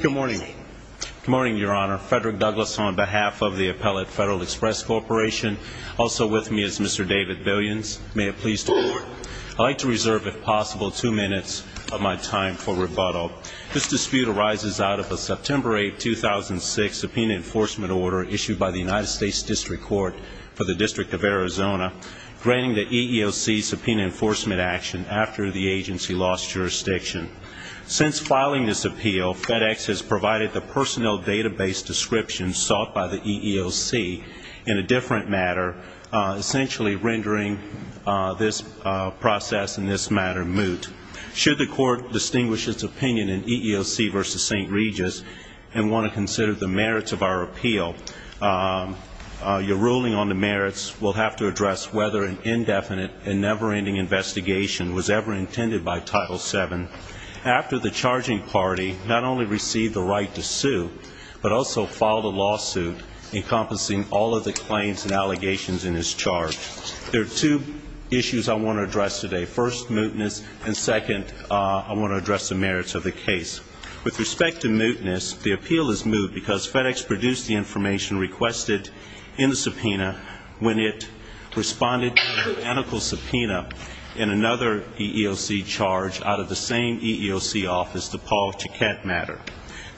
Good morning. Good morning, Your Honor. Frederick Douglass, on behalf of the Appellate Federal Express Corporation, also with me is Mr. David Billions. May it please the Court, I'd like to reserve, if possible, two minutes of my time for rebuttal. This dispute arises out of a September 8, 2006, subpoena enforcement order issued by the United States District Court for the District of Arizona, granting the EEOC subpoena enforcement action after the agency lost jurisdiction. Since filing this appeal, FedEx has provided the personnel database description sought by the EEOC in a different matter, essentially rendering this process and this matter moot. Should the Court distinguish its opinion in EEOC v. St. Regis and want to consider the merits of our appeal, your ruling on the merits will have to address whether an indefinite and never-ending investigation was ever intended by Title VII after the charging party not only received the right to sue, but also filed a lawsuit encompassing all of the claims and allegations in this charge. There are two issues I want to address today. First, mootness, and second, I want to address the merits of the case. With respect to mootness, the appeal is moot because FedEx produced the information requested in the subpoena when it responded to identical subpoena in another EEOC charge out of the same EEOC office, the Paul Chiquette matter.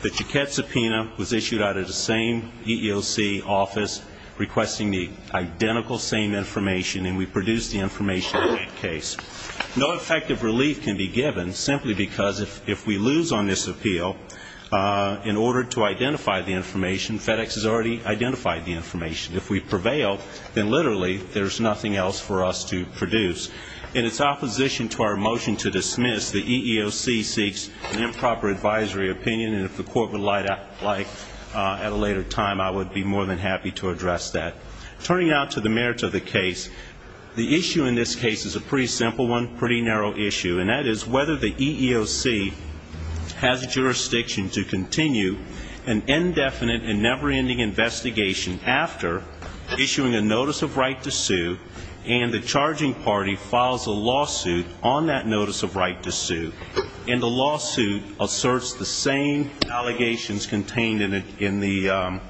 The Chiquette subpoena was issued out of the same EEOC office requesting the identical same information, and we produced the information in that case. No effective relief can be given simply because if we lose on this appeal in order to identify the information, FedEx has already identified the information. If we prevail, then literally there's nothing else for us to produce. In its opposition to our motion to dismiss, the EEOC seeks an improper advisory opinion, and if the Court would like at a later time, I would be more than happy to address that. Turning now to the merits of the case, the issue in this case is a pretty simple one, pretty narrow issue, and that is whether the EEOC has jurisdiction to continue an indefinite and never-ending investigation after issuing a notice of right to sue and the charging party files a lawsuit on that notice of right to sue, and the lawsuit asserts the same allegations contained in the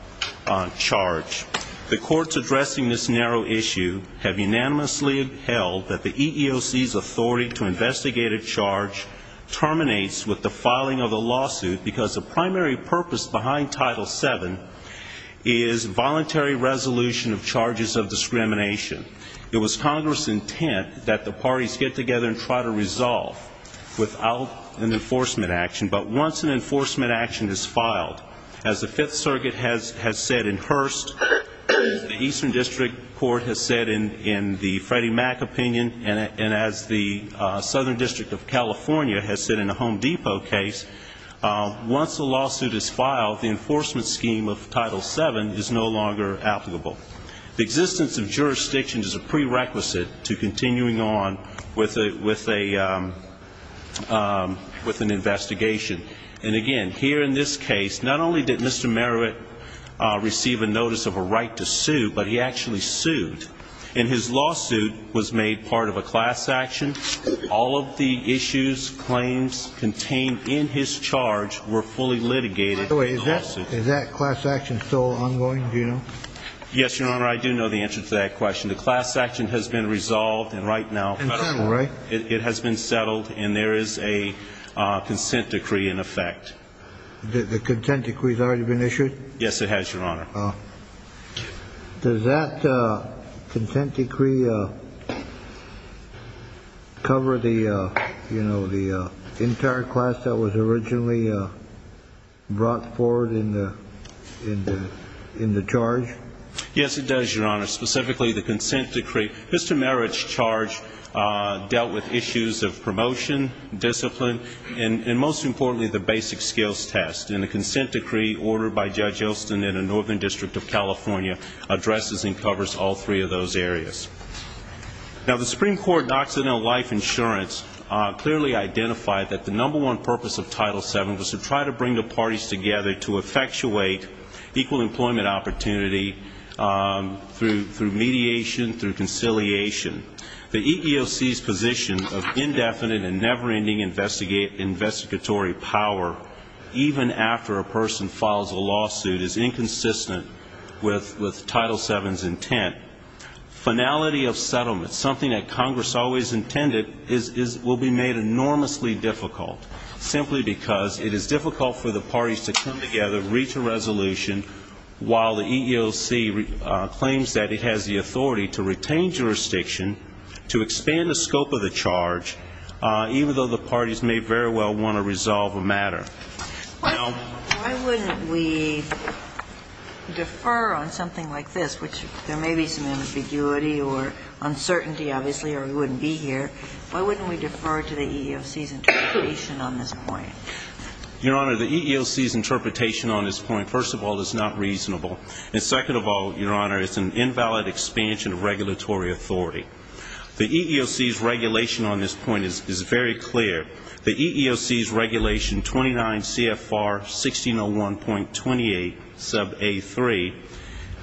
charge. The courts addressing this narrow issue have unanimously held that the EEOC's authority to investigate a charge terminates with the filing of the lawsuit because the primary purpose behind Title VII is voluntary resolution of charges of discrimination. It was Congress' intent that the parties get together and try to resolve without an enforcement action, but once an enforcement action is filed, as the Fifth Circuit has said in Hearst, the Eastern District Court has said in the Freddie Mac opinion, and as the Southern District of California has said in a Home Depot case, once a lawsuit is filed, the enforcement scheme of Title VII is no longer applicable. The existence of jurisdiction is a prerequisite to continuing on with an investigation. And again, here in this case, not only did Mr. Brown have a notice of a right to sue, but he actually sued, and his lawsuit was made part of a class action. All of the issues, claims contained in his charge were fully litigated in the lawsuit. Is that class action still ongoing, do you know? Yes, Your Honor, I do know the answer to that question. The class action has been resolved and right now it has been settled, and there is a consent decree in effect. The consent decree has already been issued? Yes, it has, Your Honor. Does that consent decree cover the entire class that was originally brought forward in the charge? Yes, it does, Your Honor. Specifically, the consent decree. Mr. Merritt's charge dealt with issues of promotion, discipline, and most importantly, the basic skills test. And the consent decree ordered by Judge Osten in the Northern District of California addresses and covers all three of those areas. Now, the Supreme Court and Occidental Life Insurance clearly identified that the number one purpose of Title VII was to try to bring the parties together to effectuate equal employment opportunity through mediation, through conciliation. The EEOC's position of indefinite and never-ending investigatory power, even after a person files a lawsuit, is inconsistent with Title VII's intent. Finality of settlement, something that Congress always intended, will be made enormously difficult, simply because it is difficult for the parties to come together, reach a resolution, while the EEOC claims that it has the authority to retain jurisdiction, to expand the scope of the charge, even though the parties may very well want to resolve a matter. Why wouldn't we defer on something like this, which there may be some ambiguity or uncertainty, obviously, or we wouldn't be here. Why wouldn't we defer to the EEOC's interpretation on this point? Your Honor, the EEOC's interpretation on this point, first of all, is not reasonable. And second of all, Your Honor, it's an invalid expansion of regulatory authority. The EEOC's regulation on this point is very clear. The EEOC's regulation, 29 CFR 1601.28 sub A3,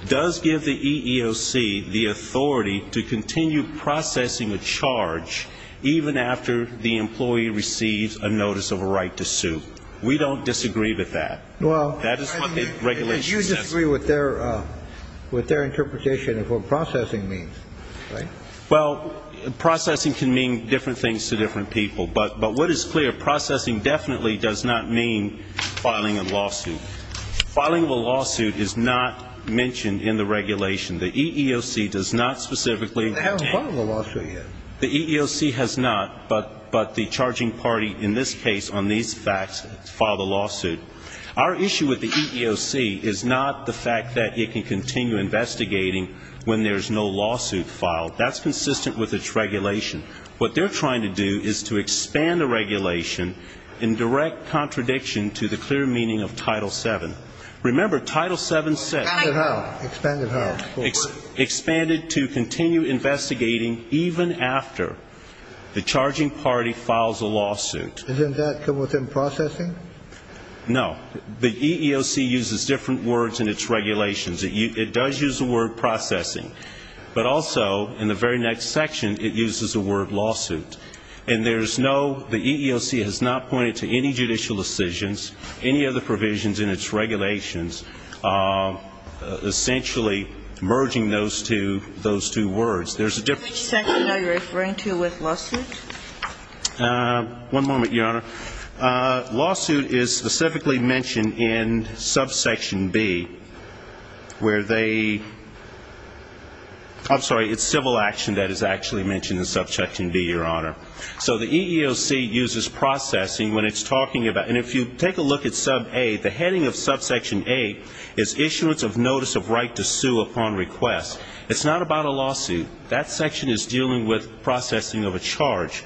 does give the EEOC the authority to continue processing a charge, even after the employee receives a notice of a right to sue. We don't disagree with that. That is what the regulation says. Well, you disagree with their interpretation of what processing means, right? Well, processing can mean different things to different people. But what is clear, processing definitely does not mean filing a lawsuit. Filing a lawsuit is not mentioned in the regulation. The EEOC does not specifically... But they haven't filed a lawsuit yet. The EEOC has not, but the charging party in this case on these facts filed a lawsuit. Our issue with the EEOC is not the fact that it can continue investigating when there's no lawsuit filed. That's consistent with its regulation. What they're trying to do is to expand the regulation in direct contradiction to the clear meaning of Title VII. Remember, Title VII says... Expanded how? Expanded how? ...even after the charging party files a lawsuit. Doesn't that come within processing? No. The EEOC uses different words in its regulations. It does use the word processing. But also, in the very next section, it uses the word lawsuit. And there's no, the EEOC has not pointed to any judicial decisions, any other provisions in its regulations, essentially merging those two words. Which section are you referring to with lawsuit? One moment, Your Honor. Lawsuit is specifically mentioned in subsection B, where they... I'm sorry, it's civil action that is actually mentioned in subsection B, Your Honor. So the EEOC uses processing when it's talking about... And if you take a look at sub A, the heading of subsection A is issuance of notice of right to sue upon request. It's not about a lawsuit. That section is dealing with processing of a charge.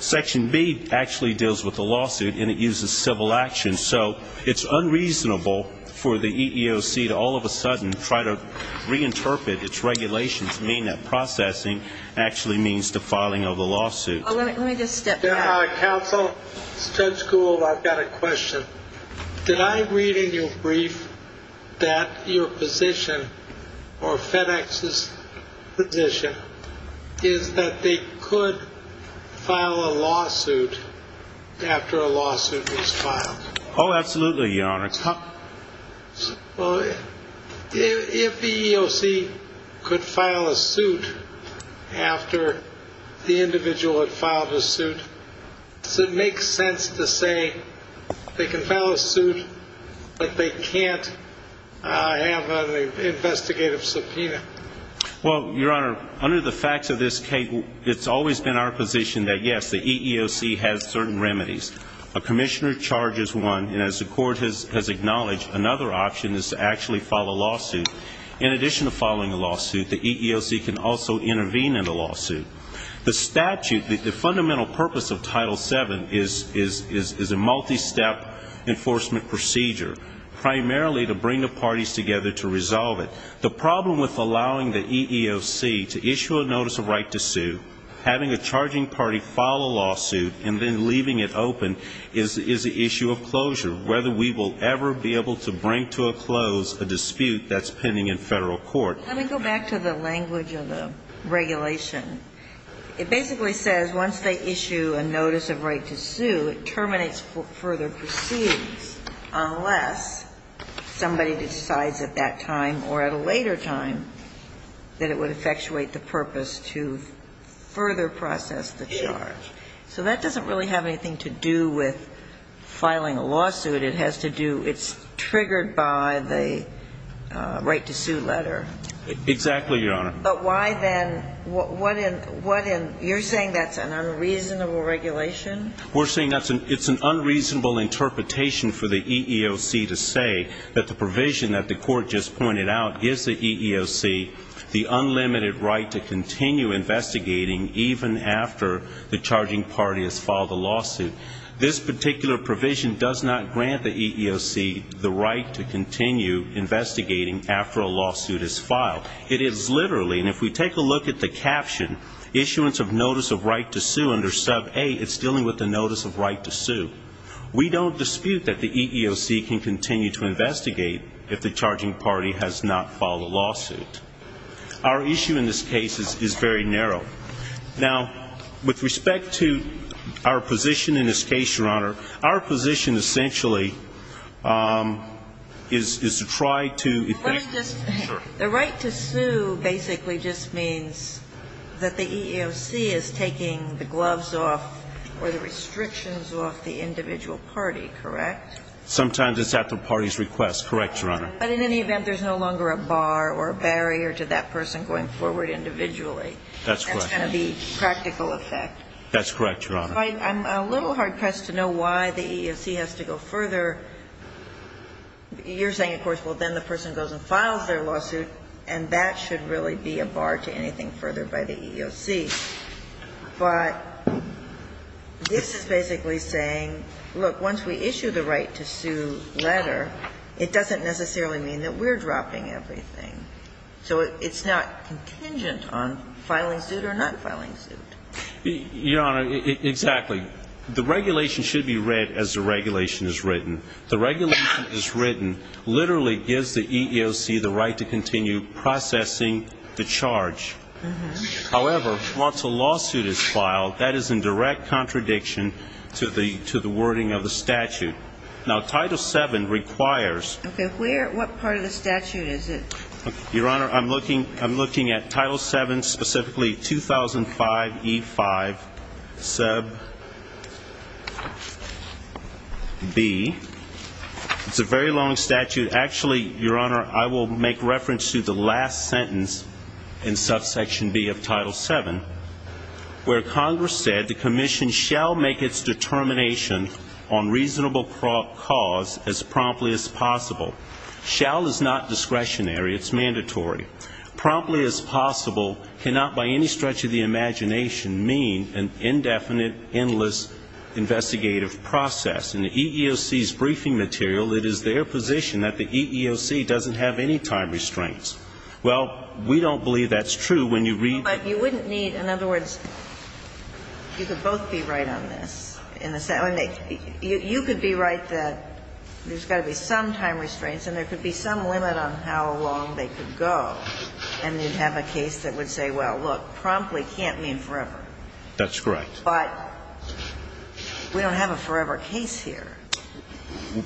Section B actually deals with a lawsuit, and it uses civil action. So it's unreasonable for the EEOC to all of a sudden try to reinterpret its regulations to mean that processing actually means the filing of a lawsuit. Let me just step back. Counsel, Judge Gould, I've got a question. Did I read in your brief that your position, or FedEx's position, is that they could file a lawsuit after a lawsuit is filed? Oh, absolutely, Your Honor. If the EEOC could file a suit after the individual had filed a suit, does it make sense to say they can file a suit, but they can't have an investigative subpoena? Well, Your Honor, under the facts of this case, it's always been our position that, yes, the EEOC has certain remedies. A commissioner charges one, and as the court has acknowledged, another option is to actually file a lawsuit. In addition to filing a lawsuit, the EEOC can also intervene in a lawsuit. The statute, the fundamental purpose of Title VII is a multi-step enforcement procedure, primarily to bring the parties together to resolve it. The problem with allowing the EEOC to issue a notice of right to sue, having a charging party file a lawsuit, and then leaving it open, is the issue of closure, whether we will ever be able to bring to a close a dispute that's pending in federal court. Let me go back to the language of the regulation. It basically says once they issue a notice of right to sue, it terminates further proceedings, unless somebody decides at that time, or at a later time, that it would effectuate the purpose to further process the charge. So that doesn't really have anything to do with filing a lawsuit. It has to do, it's triggered by the right to sue letter. Exactly, Your Honor. But why then, what in, you're saying that's an unreasonable regulation? We're saying it's an unreasonable interpretation for the EEOC to say that the provision that the court just pointed out is the EEOC, the unlimited right to continue investigating even after the charging party has filed a lawsuit. This particular provision does not grant the EEOC the right to continue investigating after a lawsuit is filed. It is literally, and if we take a look at the caption, issuance of notice of right to sue under sub A, it's dealing with the notice of right to sue. We don't dispute that the EEOC can continue to investigate if the charging party has not filed a lawsuit. Our issue in this case is very narrow. Now, with respect to our position in this case, Your Honor, our position essentially is to try to... Let me just... Sure. The right to sue basically just means that the EEOC is taking the gloves off or the restrictions off the individual party, correct? Sometimes it's at the party's request, correct, Your Honor. But in any event, there's no longer a bar or a barrier to that person going forward individually. That's correct. That's going to be practical effect. That's correct, Your Honor. I'm a little hard pressed to know why the EEOC has to go further. You're saying, of course, well, then the person goes and files their lawsuit, and that should really be a bar to anything further by the EEOC. But this is basically saying, look, once we issue the right to sue letter, it doesn't necessarily mean that we're dropping everything. So it's not contingent on filing suit or not filing suit. Your Honor, exactly. The regulation should be read as the regulation is written. The regulation is written literally gives the EEOC the right to continue processing the charge. However, once a lawsuit is filed, that is in direct contradiction to the wording of the statute. Now, Title VII requires... Okay, what part of the statute is it? Your Honor, I'm looking at Title VII, specifically 2005E5 sub B. It's a very long statute. Actually, Your Honor, I will make reference to the last sentence in subsection B of Title VII, where Congress said the commission shall make its determination on reasonable cause as promptly as possible. Shall is not discretionary. It's mandatory. Promptly as possible cannot, by any stretch of the imagination, mean an indefinite, endless investigative process. In the EEOC's briefing material, it is their position that the EEOC doesn't have any time restraints. Well, we don't believe that's true when you read... But you wouldn't need... In other words, you could both be right on this. You could be right that there's got to be some time restraints and there could be some limit on how long they could go, and you'd have a case that would say, well, look, promptly can't mean forever. That's correct. But we don't have a forever case here.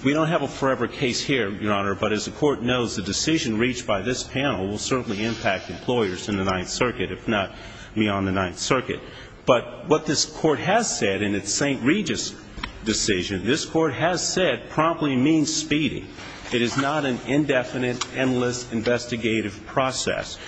We don't have a forever case here, Your Honor, but as the Court knows, the decision reached by this panel will certainly impact employers in the Ninth Circuit, if not beyond the Ninth Circuit. But what this Court has said in its St. Regis decision, this Court has said promptly means speedy. It is not an indefinite, endless investigative process.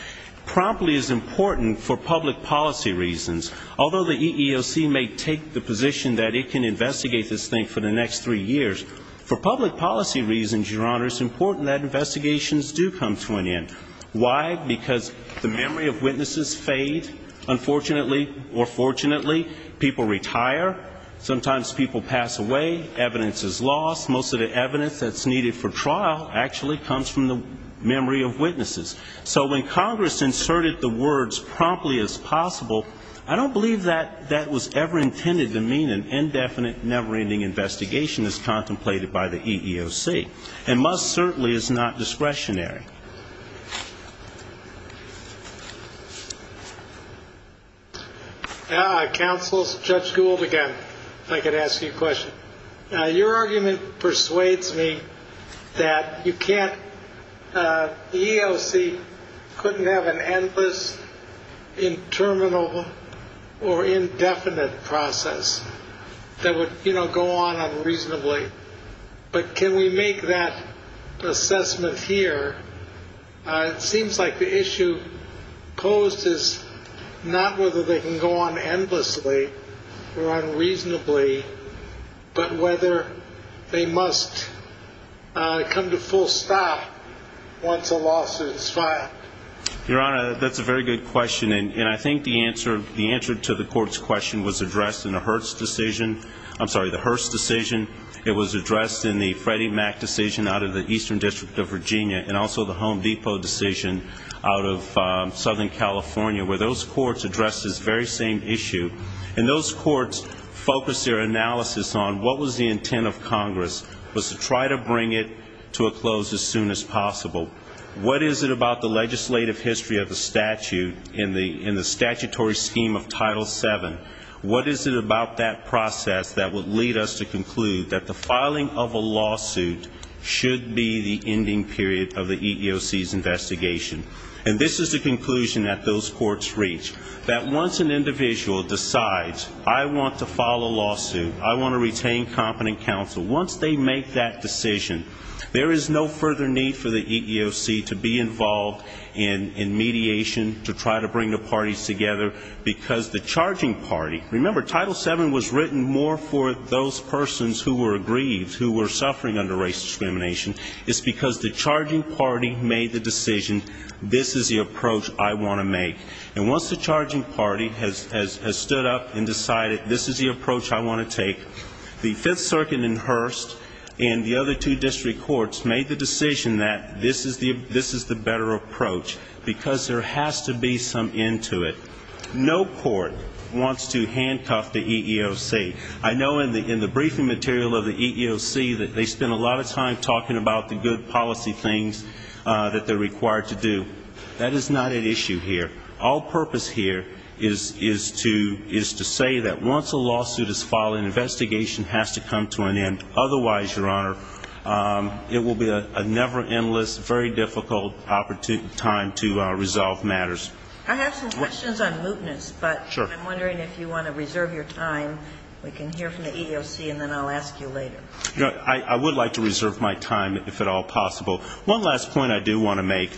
Promptly is important for public policy reasons. Although the EEOC may take the position that it can investigate this thing for the next three years, for public policy reasons, Your Honor, it's important that investigations do come to an end. Why? Because the memory of witnesses fade, unfortunately. Or fortunately, people retire. Sometimes people pass away, evidence is lost. Most of the evidence that's needed for trial actually comes from the memory of witnesses. So when Congress inserted the words promptly as possible, I don't believe that that was ever intended to mean an indefinite, never-ending investigation as contemplated by the EEOC. And must certainly is not discretionary. Counsel, Judge Gould again, if I could ask you a question. Your argument persuades me that you can't, the EEOC couldn't have an endless, interminable, or indefinite process that would, you know, go on unreasonably. But can we make that assessment here? It seems like the issue posed is not whether they can go on endlessly or unreasonably, but whether they must come to full stop once a lawsuit is filed. Your Honor, that's a very good question. And I think the answer to the Court's question was addressed in the Hearst decision. I'm sorry, the Hearst decision. It was addressed in the Freddie Mac decision out of the Eastern District of Virginia. And also the Home Depot decision out of Southern California, where those courts addressed this very same issue. And those courts focused their analysis on what was the intent of Congress, was to try to bring it to a close as soon as possible. What is it about the legislative history of the statute, in the statutory scheme of Title VII? What is it about that process that would lead us to conclude that the filing of a lawsuit should be the ending period of the EEOC's investigation? And this is the conclusion that those courts reach, that once an individual decides, I want to file a lawsuit, I want to retain competent counsel, once they make that decision, there is no further need for the EEOC to be involved in mediation, to try to bring the parties together, because the charging party, remember, Title VII was written more for those persons who were aggrieved, who were suffering under race discrimination, it's because the charging party made the decision, this is the approach I want to make. And once the charging party has stood up and decided, this is the approach I want to take, the Fifth Circuit and Hearst and the other two district courts made the decision that this is the better approach, because there has to be some end to it. No court wants to handcuff the EEOC. I know in the briefing material of the EEOC that they spend a lot of time talking about the good policy things that they're required to do. That is not at issue here. All purpose here is to say that once a lawsuit is filed, an investigation has to come to an end. Otherwise, Your Honor, it will be a never-endless, very difficult time to resolve matters. I have some questions on mootness, but I'm wondering if you want to reserve your time We can hear from the EEOC and then I'll ask you later. I would like to reserve my time, if at all possible. One last point I do want to make.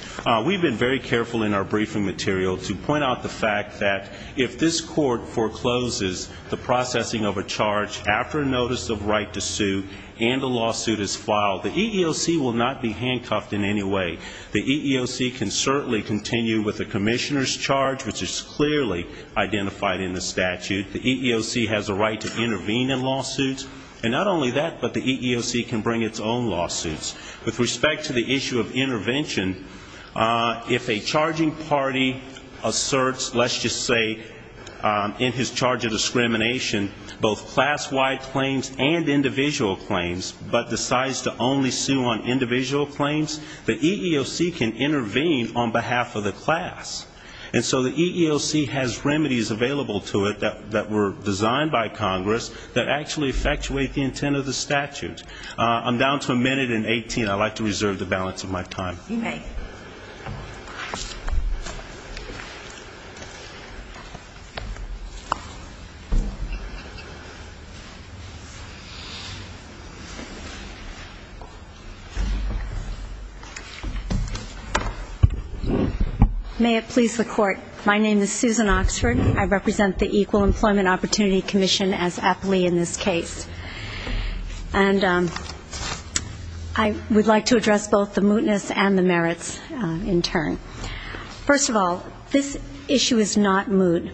We've been very careful in our briefing material to point out the fact that if this court forecloses the processing of a charge after a notice of right to sue and a lawsuit is filed, the EEOC will not be handcuffed in any way. The EEOC can certainly continue with a commissioner's charge, which is clearly identified in the statute. The EEOC has a right to intervene in lawsuits. And not only that, but the EEOC can bring its own lawsuits. With respect to the issue of intervention, if a charging party asserts, let's just say, in his charge of discrimination, both class-wide claims and individual claims, but decides to only sue on individual claims, the EEOC can intervene on behalf of the class. And so the EEOC has remedies available to it that were designed by Congress that actually effectuate the intent of the statute. I'm down to a minute and 18. I'd like to reserve the balance of my time. You may. May it please the Court. My name is Susan Oxford. I represent the Equal Employment Opportunity Commission as appellee in this case. And I would like to address both the mootness and the merits in turn. First of all, this issue is not moot.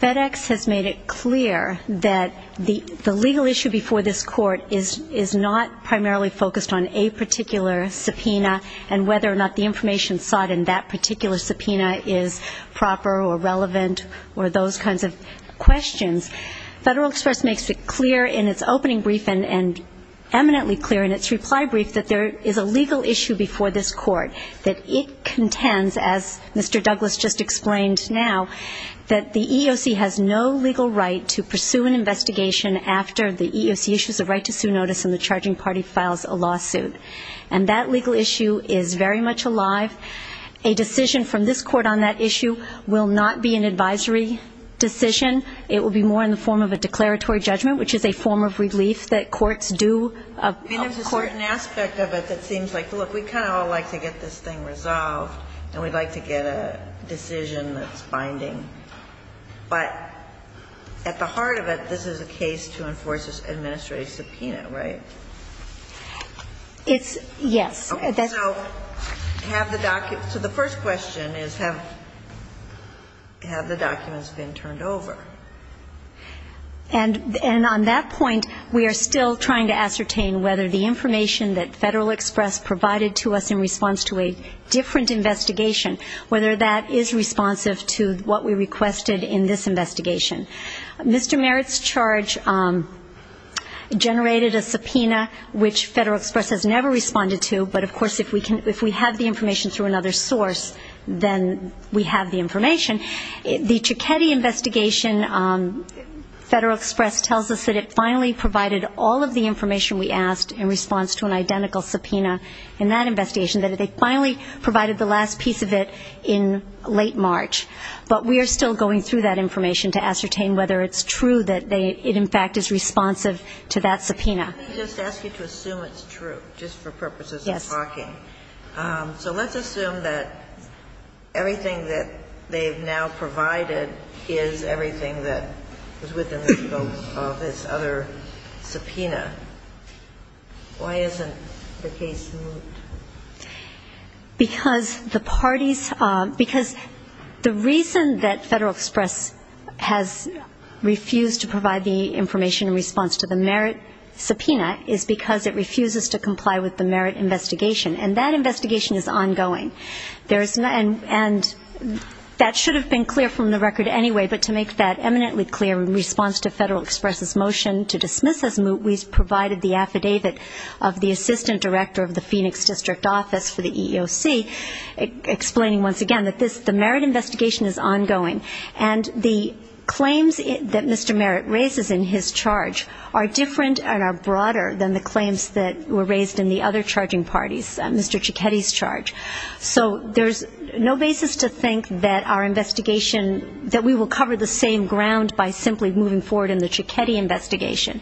FedEx has made it clear that the legal issue before this Court is not primarily focused on a particular subpoena and whether or not the information sought in that particular subpoena is proper or relevant or those kinds of questions. Federal Express makes it clear in its opening brief and eminently clear in its reply brief that there is a legal issue before this Court that it contends, as Mr. Douglas just explained now, that the EEOC has no legal right to pursue an investigation after the EEOC issues a right to sue notice and the charging party files a lawsuit. And that legal issue is very much alive. A decision from this Court on that issue will not be an advisory decision. It will be more in the form of a declaratory judgment which is a form of relief that courts do. And there's a certain aspect of it that seems like look, we kind of all like to get this thing resolved and we'd like to get a decision that's binding. But at the heart of it, this is a case to enforce an administrative subpoena, right? Yes. So the first question is have the documents been turned over? And on that point we are still trying to ascertain whether the information that Federal Express provided to us in response to a different investigation whether that is responsive to what we requested in this investigation. Mr. Merritt's charge generated a subpoena which Federal Express has never responded to but of course if we have the information through another source, then we have the information. The Cicchetti investigation Federal Express tells us that it finally provided all of the information we asked in response to an identical subpoena in that investigation that they finally provided the last piece of it in late March. But we are still going through that information to ascertain whether it's true that it in fact is responsive to that subpoena. Let me just ask you to assume it's true just for purposes of talking. So let's assume that everything that they've now provided is everything that was within the scope of this other subpoena. Why isn't the case moved? Because the parties because the reason that Federal Express has refused to provide the information in response to the Merritt subpoena is because it refuses to comply with the Merritt investigation and that investigation is ongoing. And that should have been clear from the record anyway but to make that eminently clear in response to Federal Express' motion to dismiss this move we've provided the affidavit of the Assistant Director of the Phoenix District Office for the EEOC explaining once again that the Merritt investigation is ongoing and the claims that Mr. Merritt raises in his charge are different and are broader than the claims that were raised in the other charging parties, Mr. Cicchetti's charge. So there's no basis to think that our investigation that we will cover the same ground by simply moving forward in the Cicchetti investigation.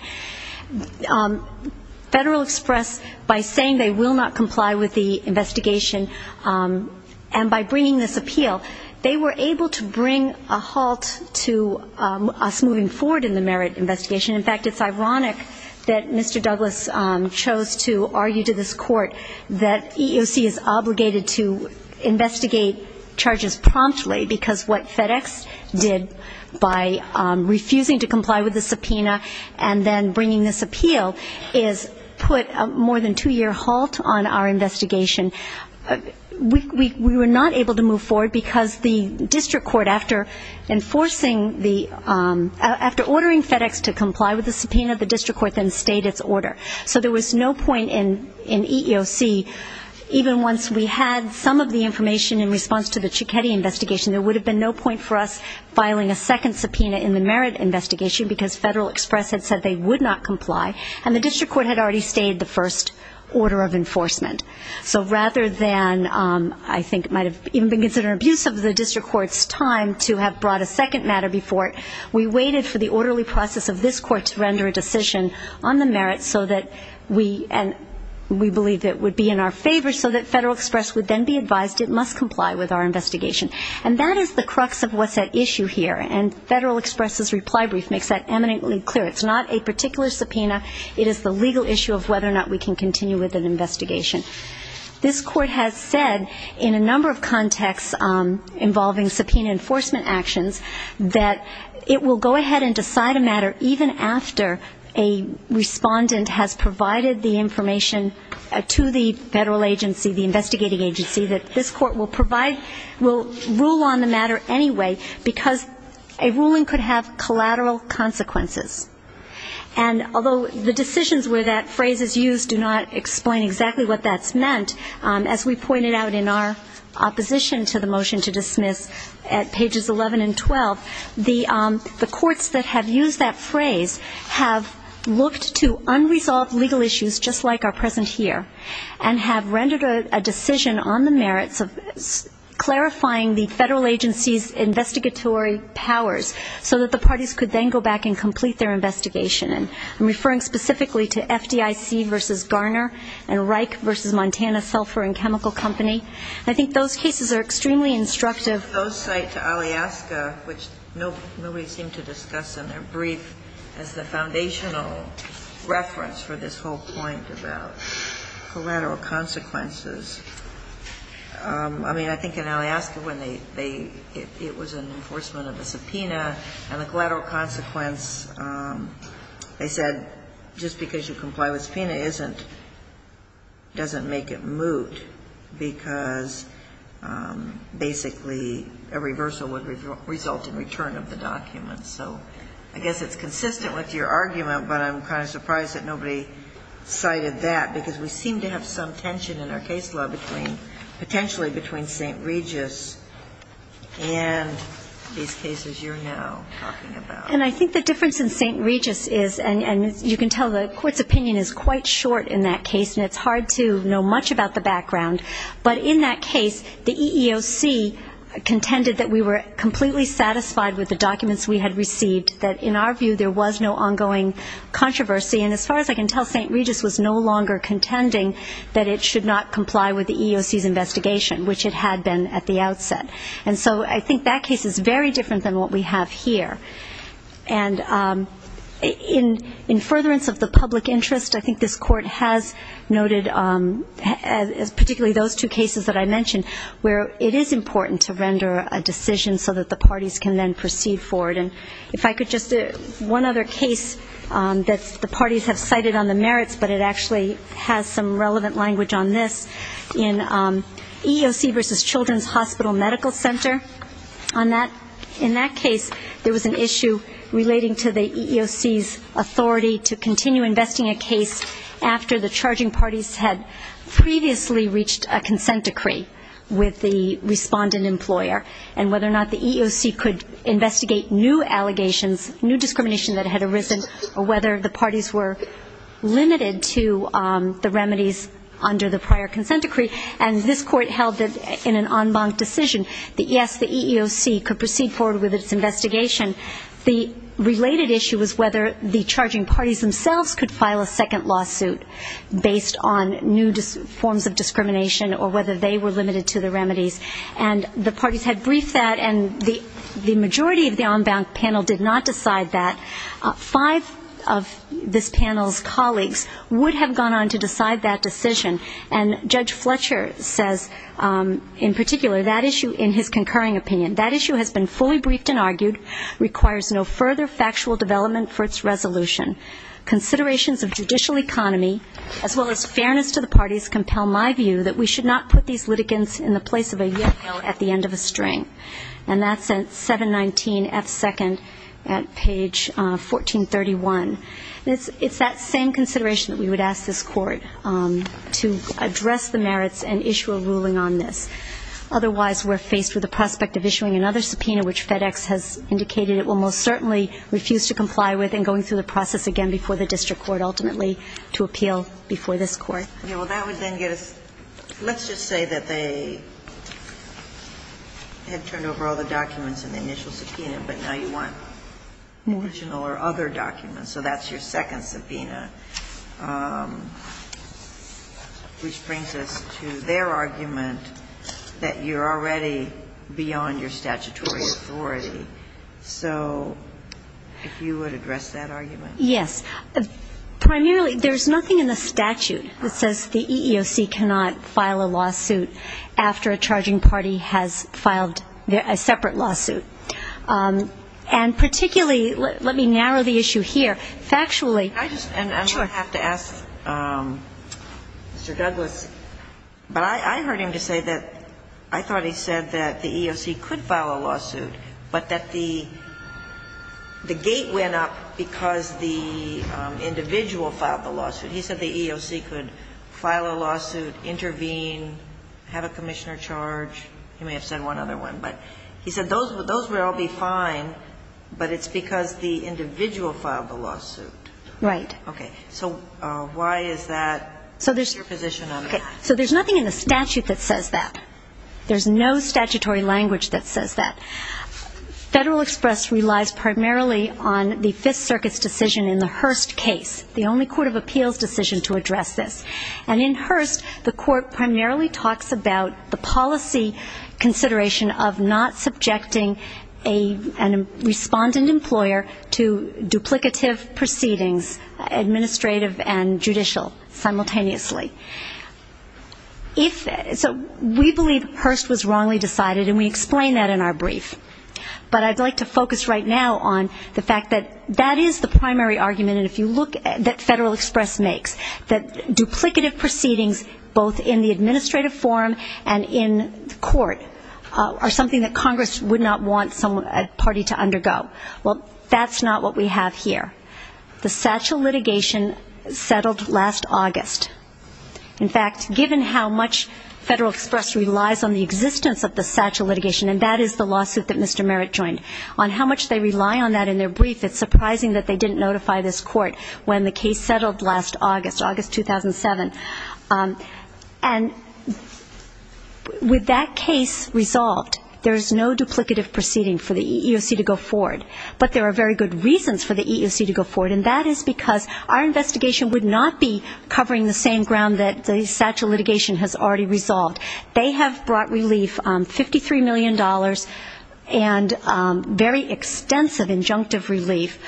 Federal Express by saying they will not comply with the investigation and by bringing this appeal they were able to bring a halt to us moving forward in the Merritt investigation in fact it's ironic that Mr. Douglas chose to argue to this court that EEOC is obligated to investigate charges promptly because what FedEx did by then bringing this appeal is put a more than two year halt on our investigation we were not able to move forward because the district court after enforcing after ordering FedEx to comply with the subpoena the district court then stayed its order so there was no point in EEOC even once we had some of the information in response to the Cicchetti investigation there would have been no point for us filing a second subpoena in the Merritt investigation because FedEx had said they would not comply and the district court had already stayed the first order of enforcement so rather than I think it might have even been considered an abuse of the district court's time to have brought a second matter before it we waited for the orderly process of this court to render a decision on the Merritt so that we believe it would be in our favor so that FedEx would then be advised it must comply with our investigation and that is the crux of what's at issue here and FedEx's reply brief makes that eminently clear it's not a particular subpoena it is the legal issue of whether or not we can continue with an investigation this court has said in a number of contexts involving subpoena enforcement actions that it will go ahead and decide a matter even after a respondent has provided the information to the federal agency the investigating agency that this court will provide will rule on the matter anyway because a ruling could have collateral consequences and although the decisions where that phrase is used do not explain exactly what that's meant as we pointed out in our opposition to the motion to dismiss at pages 11 and 12 the courts that have used that phrase have looked to unresolved legal issues just like are present here and have rendered a decision on the Merritts of clarifying the federal agency's investigatory powers so that the parties could then go back and complete their investigation and I'm referring specifically to FDIC v. Garner and Reich v. Montana Sulphur and Chemical Company I think those cases are extremely instructive those cite to Alyaska which nobody seemed to discuss in their brief as the foundational reference for this whole point about collateral consequences I mean I think in Alyaska when they it was an enforcement of a subpoena and the collateral consequence they said just because you comply with subpoena doesn't make it moot because basically a reversal would result in return of the document so I guess it's consistent with your argument but I'm kind of surprised that nobody cited that because we seem to have some tension in our case law potentially between St. Regis and these cases you're now talking about and I think the difference in St. Regis and you can tell the court's opinion is quite short in that case and it's hard to know much about the background but in that case the EEOC contended that we were completely satisfied with the documents we had received that in our view there was no ongoing controversy and as far as I can tell St. Regis was no longer contending that it should not comply with the EEOC's investigation which it had been at the outset and so I think that case is very different than what we have here and in furtherance of the public interest I think this court has noted particularly those two cases that I mentioned where it is important to render a decision so that the parties can then proceed forward and if I could just one other case that the parties have cited on the merits but it actually has some relevant language on this in EEOC versus Children's Hospital Medical Center in that case there was an issue relating to the EEOC's authority to continue investing a case after the charging parties had previously reached a consent decree with the respondent employer and whether or not the EEOC could investigate new allegations, new discrimination that had arisen or whether the parties were limited to the remedies under the prior consent decree and this court held that in an en banc decision that yes the EEOC could proceed forward with its investigation the related issue was whether the charging parties themselves could file a second lawsuit based on new forms of discrimination or whether they were limited to the remedies and the parties had briefed that and the majority of the en banc panel did not decide that. Five of this panel's colleagues would have gone on to decide that decision and Judge Fletcher says in particular that issue in his concurring opinion that issue has been fully briefed and argued requires no further factual development for its resolution considerations of judicial economy as well as fairness to the parties compel my view that we should not put these litigants in the place of a year at the end of a string and that's at 719 F2 at page 1431 it's that same consideration that we would ask this court to address the merits and issue a ruling on this otherwise we're faced with the prospect of issuing another subpoena which FedEx has indicated it will most certainly refuse to comply with and going through the process again before the district court ultimately to appeal before this court. Well that would then get us, let's just say that they had turned over all the documents in the initial subpoena but now you want additional or other documents so that's your second subpoena which brings us to their argument that you're already beyond your statutory authority so if you would address that argument. Yes primarily there's nothing in the statute that says the EEOC cannot file a lawsuit after a charging party has filed a separate lawsuit and particularly let me narrow the issue here, factually I'm going to have to ask Mr. Douglas but I heard him to say that I thought he said that the EEOC could file a lawsuit but that the gate went up because the individual filed the lawsuit, he said the EEOC could file a lawsuit intervene, have a commissioner charge he may have said one other one but he said those would all be fine but it's because the individual filed the lawsuit so why is that so there's nothing in the statute that says that there's no statutory language that says that Federal Express relies primarily on the Fifth Circuit's decision in the Hearst case the only court of appeals decision to address this and in Hearst the court primarily talks about the policy consideration of not subjecting a respondent employer to duplicative proceedings administrative and judicial simultaneously so we believe Hearst was wrongly decided and we explain that in our brief but I'd like to focus right now on the fact that that is the primary argument that Federal Express makes that duplicative proceedings both in the administrative forum and in court are something that Congress would not want a party to undergo well that's not what we have here the satchel litigation settled last August in fact given how much Federal Express relies on the existence of the satchel litigation and that is the lawsuit that Mr. Merritt joined on how much they rely on that in their brief it's surprising that they didn't notify this court when the case settled last August, August 2007 and with that case resolved there's no duplicative proceeding for the EEOC to go forward but there are very good reasons for the EEOC to go forward and that is because our investigation would not be resolved, they have brought relief $53 million and very extensive injunctive relief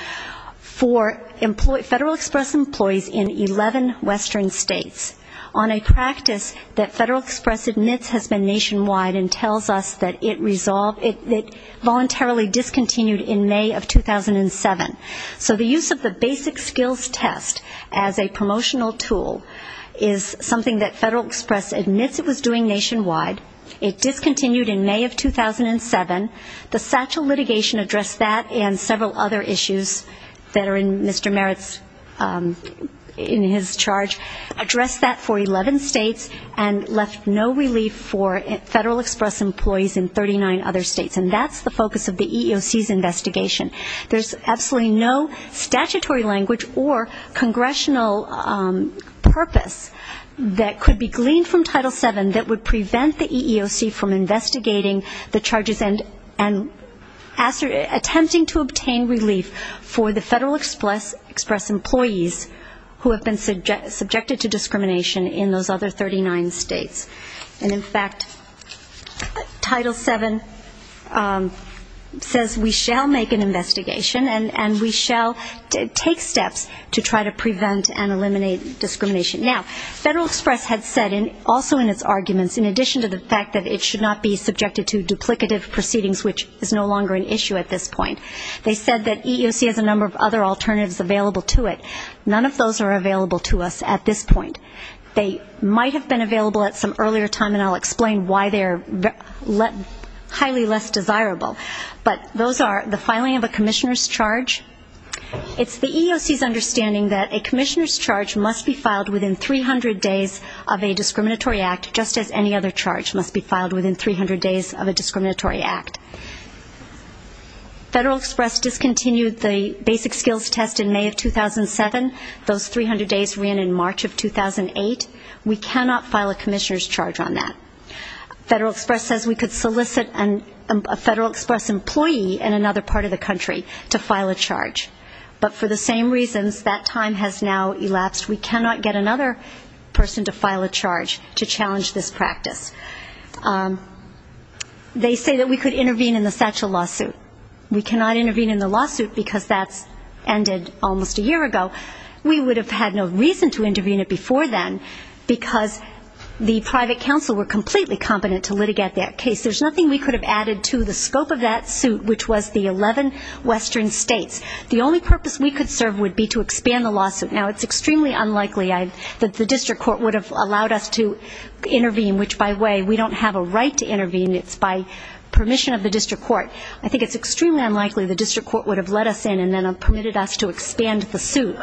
for Federal Express employees in 11 western states on a practice that Federal Express admits has been nationwide and tells us that it voluntarily discontinued in May of 2007 so the use of the basic skills test as a promotional tool is something that Federal Express admits it was doing nationwide it discontinued in May of 2007 the satchel litigation addressed that and several other issues that are in Mr. Merritt's in his charge addressed that for 11 states and left no relief for Federal Express employees in 39 other states and that's the focus of the EEOC's investigation there's absolutely no statutory language or congressional purpose that could be gleaned from Title VII that would prevent the EEOC from investigating the charges and attempting to obtain relief for the Federal Express employees who have been subjected to discrimination in those other 39 states and in fact, Title VII says we shall make an investigation and we shall take steps to try to prevent and eliminate discrimination now, Federal Express had said also in its arguments, in addition to the fact that it should not be subjected to duplicative proceedings which is no longer an issue at this point they said that EEOC has a number of other alternatives available to it none of those are available to us at this point they might have been available at some earlier time and I'll explain why they're highly less desirable but those are the filing of a commissioner's charge it's the EEOC's understanding that a commissioner's charge must be filed within 300 days of a discriminatory act just as any other charge must be filed within 300 days of a discriminatory act Federal Express discontinued the basic skills test in May of 2007 those 300 days ran in March of 2008 we cannot file a commissioner's charge on that Federal Express says we could solicit a Federal Express employee in another part of the country to file a charge but for the same reasons, that time has now elapsed we cannot get another person to file a charge to challenge this practice they say that we could intervene in the Satchel lawsuit we cannot intervene in the lawsuit because that's ended almost a year ago we would have had no reason to intervene it before then because the private counsel were completely competent to litigate that case there's nothing we could have added to the scope of that suit which was the 11 western states the only purpose we could serve would be to expand the lawsuit now it's extremely unlikely that the district court would have allowed us to intervene which by the way, we don't have a right to intervene it's by permission of the district court I think it's extremely unlikely the district court would have let us in and then permitted us to expand the suit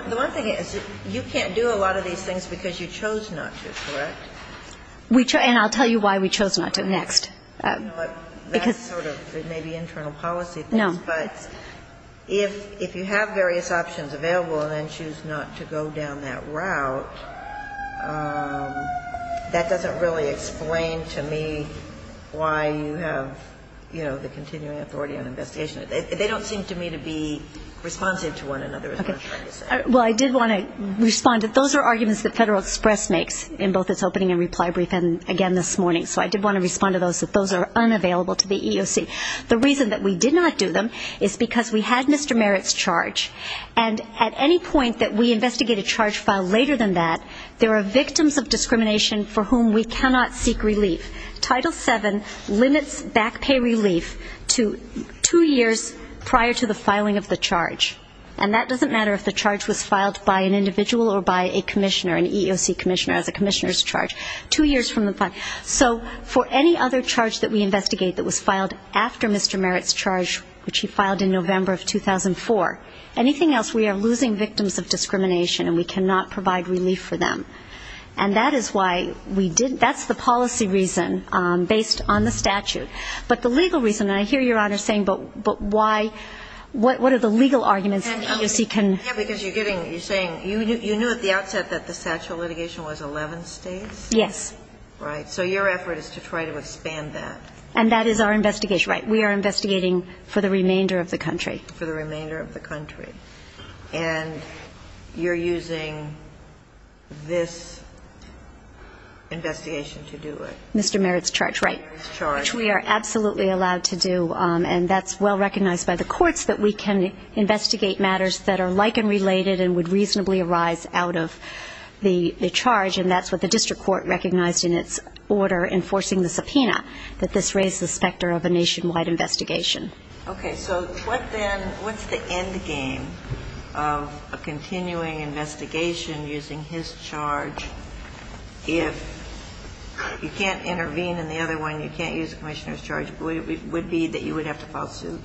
you can't do a lot of these things because you chose not to, correct? and I'll tell you why we chose not to next that's sort of maybe internal policy but if you have various options available and then choose not to go down that route that doesn't really explain to me why you have the continuing authority on investigation they don't seem to me to be responsive to one another well I did want to respond those are arguments that Federal Express makes in both its opening and reply brief and again this morning so I did want to respond to those that those are unavailable to the EEOC the reason that we did not do them is because we had Mr. Merritt's charge and at any point that we investigate a charge filed later than that there are victims of discrimination for whom we cannot seek relief Title VII limits back pay relief to two years prior to the filing of the charge and that doesn't matter if the charge was filed by an individual or by a commissioner, an EEOC commissioner as a commissioner's charge two years from the filing so for any other charge that we investigate that was filed after Mr. Merritt's charge which he filed in November of 2004 anything else we are losing victims of discrimination and we cannot provide relief for them and that is why we didn't, that's the policy reason based on the statute but the legal reason and I hear your honor saying but why, what are the legal arguments that the EEOC can yeah because you're getting, you're saying you knew at the outset that the statute of litigation was 11 states yes right, so your effort is to try to expand that and that is our investigation, right, we are investigating for the remainder of the country for the remainder of the country and you're using this investigation to do it Mr. Merritt's charge, right which we are absolutely allowed to do and that's well recognized by the courts that we can investigate matters that are like and related and would reasonably arise out of the charge and that's what the district court recognized in its order enforcing the subpoena that this raised the specter of a nationwide investigation okay, so what then, what's the end game of a continuing investigation using his charge if you can't intervene in the other one you can't use the commissioner's charge would it be that you would have to file suit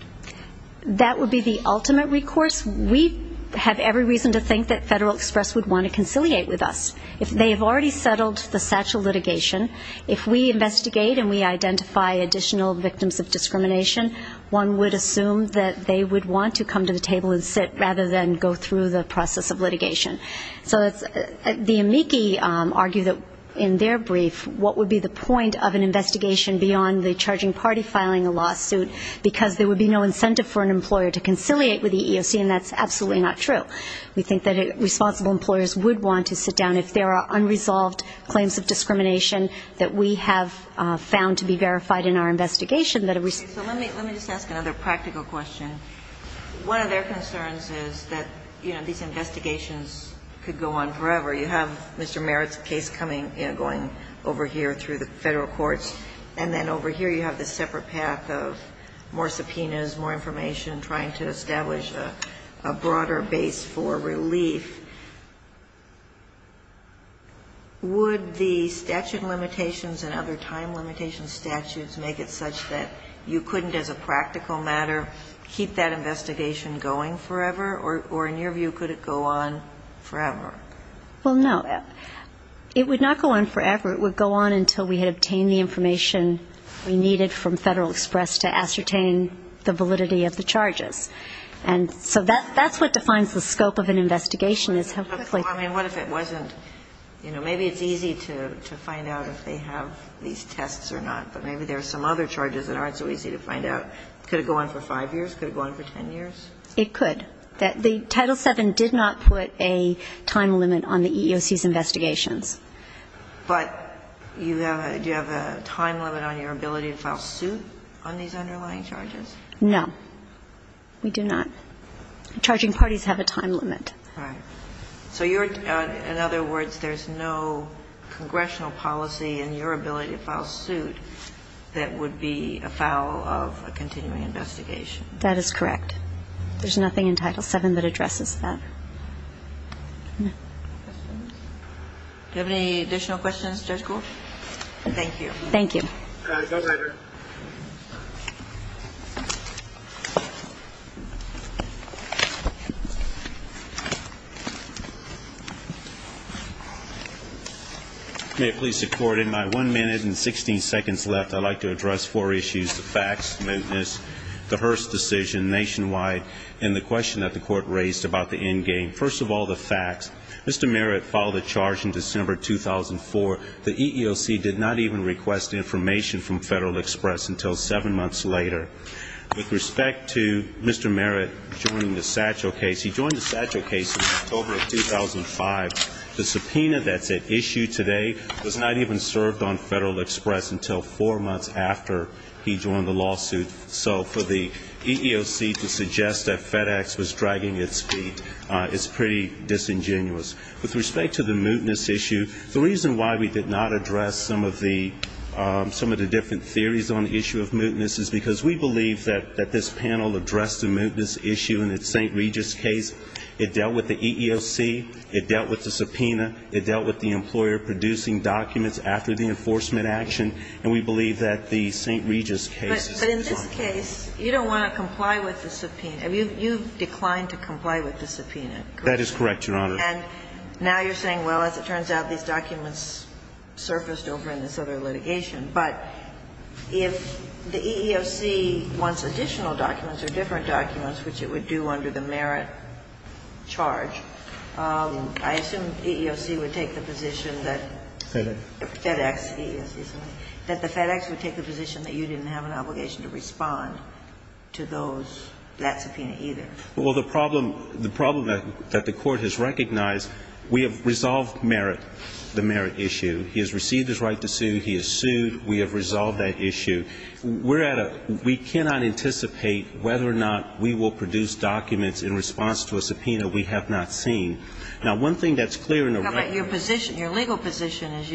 that would be the ultimate recourse we have every reason to think that Federal Express would want to conciliate with us if they have already settled the satchel litigation if we investigate and we identify additional victims of discrimination one would assume that they would want to come to the table and sit rather than go through the process of litigation so the amici argue that in their brief what would be the point of an investigation beyond the charging party filing a lawsuit because there would be no incentive for an employer to conciliate with the EEOC and that's absolutely not true we think that responsible employers would want to sit down if there are unresolved claims of discrimination that we have found to be verified in our investigation let me just ask another practical question one of their concerns is that these investigations could go on forever you have Mr. Merritt's case going over here through the federal courts and then over here you have this separate path of more subpoenas, more information trying to establish a broader base for relief would the statute limitations and other time limitation statutes make it such that you couldn't as a practical matter keep that investigation going forever or in your view could it go on forever well no, it would not go on forever it would go on until we had obtained the information we needed from Federal Express to ascertain the validity of the charges and so that's what defines the scope of an investigation I mean what if it wasn't maybe it's easy to find out if they have these tests or not but maybe there are some other charges that aren't so easy to find out could it go on for 5 years, could it go on for 10 years it could, the title 7 did not put a time limit on the EEOC's investigations but do you have a time limit on your ability to file suit on these underlying charges no, we do not charging parties have a time limit so in other words there is no congressional policy in your ability to file suit that would be a foul of a continuing investigation that is correct there is nothing in title 7 that addresses that do you have any additional questions Judge Gould thank you may it please the court in my 1 minute and 16 seconds left I'd like to address 4 issues the facts, the smoothness, the Hearst decision nationwide and the question that the court raised about the end game first of all the facts Mr. Merritt filed a charge in December 2004 the EEOC did not even request an end game the EEOC did not request information from Federal Express until 7 months later with respect to Mr. Merritt joining the Satchel case he joined the Satchel case in October 2005 the subpoena that's at issue today was not even served on Federal Express until 4 months after he joined the lawsuit so for the EEOC to suggest that FedEx was dragging its feet is pretty disingenuous with respect to the smoothness issue the reason why we did not address some of the different theories on the issue of smoothness is because we believe that this panel addressed the smoothness issue in the St. Regis case it dealt with the EEOC it dealt with the subpoena it dealt with the employer producing documents after the enforcement action and we believe that the St. Regis case but in this case you don't want to comply with the subpoena you've declined to comply with the subpoena that is correct Your Honor now you're saying well as it turns out these documents surfaced over in this other litigation but if the EEOC wants additional documents or different documents which it would do under the Merritt charge I assume the EEOC would take the position that the FedEx would take the position that you didn't have an obligation to respond to that subpoena either well the problem that the court has recognized we have resolved Merritt, the Merritt issue he has received his right to sue, he has sued we have resolved that issue we cannot anticipate whether or not we will produce documents in response to a subpoena we have not seen now one thing that's clear your legal position is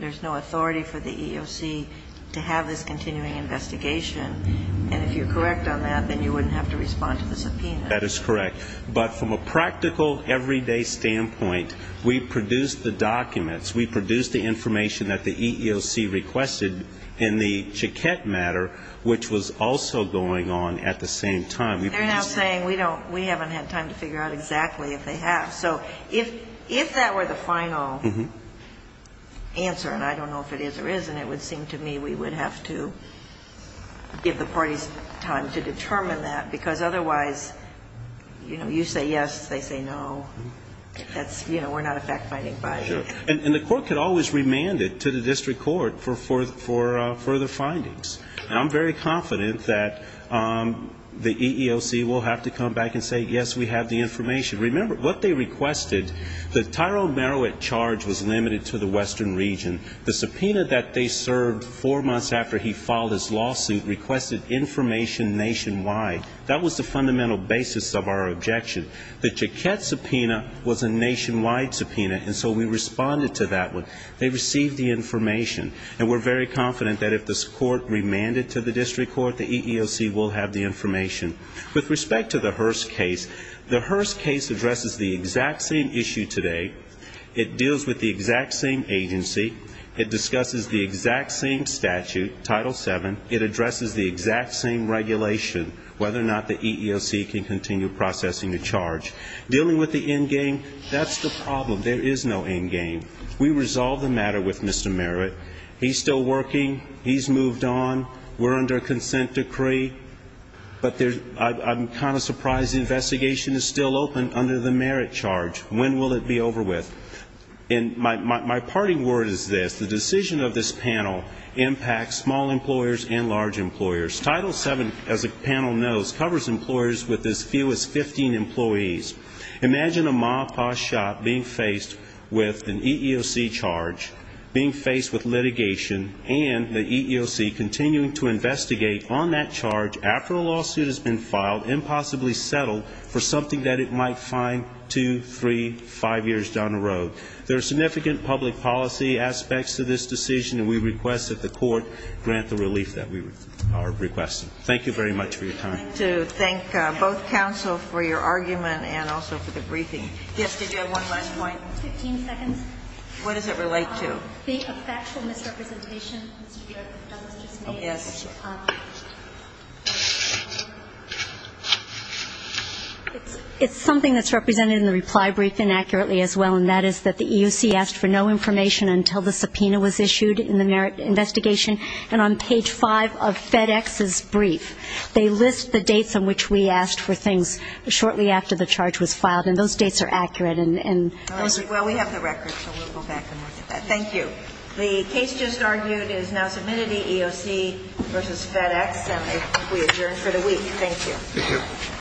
there's no authority for the EEOC to have this continuing investigation and if you're correct on that then you wouldn't have to respond to the subpoena that is correct but from a practical everyday standpoint we produced the documents, we produced the information that the EEOC requested in the Chiquette matter which was also going on at the same time they're now saying we haven't had time to figure out exactly if they have so if that were the final answer and I don't know if it is or isn't it would seem to me we would have to give the parties time to determine that because otherwise you say yes, they say no we're not a fact-finding body and the court could always remand it to the district court for further findings and I'm very confident that the EEOC will have to come back and say yes, we have the information remember what they requested, the Tyrone Merowit charge was limited to the western region the subpoena that they served four months after he filed his lawsuit requested information nationwide that was the fundamental basis of our objection the Chiquette subpoena was a nationwide subpoena and so we responded to that one they received the information and we're very confident that if this court remanded to the district court that the EEOC will have the information with respect to the Hearst case the Hearst case addresses the exact same issue today it deals with the exact same agency it discusses the exact same statute, Title VII it addresses the exact same regulation whether or not the EEOC can continue processing the charge dealing with the endgame, that's the problem there is no endgame we resolved the matter with Mr. Merowit he's still working, he's moved on we're under a consent decree but I'm kind of surprised the investigation is still open under the Merowit charge when will it be over with my parting word is this the decision of this panel impacts small employers and large employers Title VII, as the panel knows, covers employers with as few as 15 employees imagine a ma-pa shop being faced with an EEOC being faced with litigation and the EEOC continuing to investigate on that charge after a lawsuit has been filed impossibly settled for something that it might find two, three, five years down the road there are significant public policy aspects to this decision and we request that the court grant the relief that we are requesting thank you very much for your time I'd like to thank both counsel for your argument and also for the briefing yes, did you have one last point what does it relate to a factual misrepresentation it's something that's represented in the reply brief inaccurately as well and that is that the EEOC asked for no information until the subpoena was issued in the Merowit investigation and on page 5 of FedEx's brief they list the dates on which we asked for things shortly after the charge was filed and those dates are accurate well we have the records so we'll go back and look at that thank you the case just argued is now submitted EEOC vs FedEx and we adjourn for the week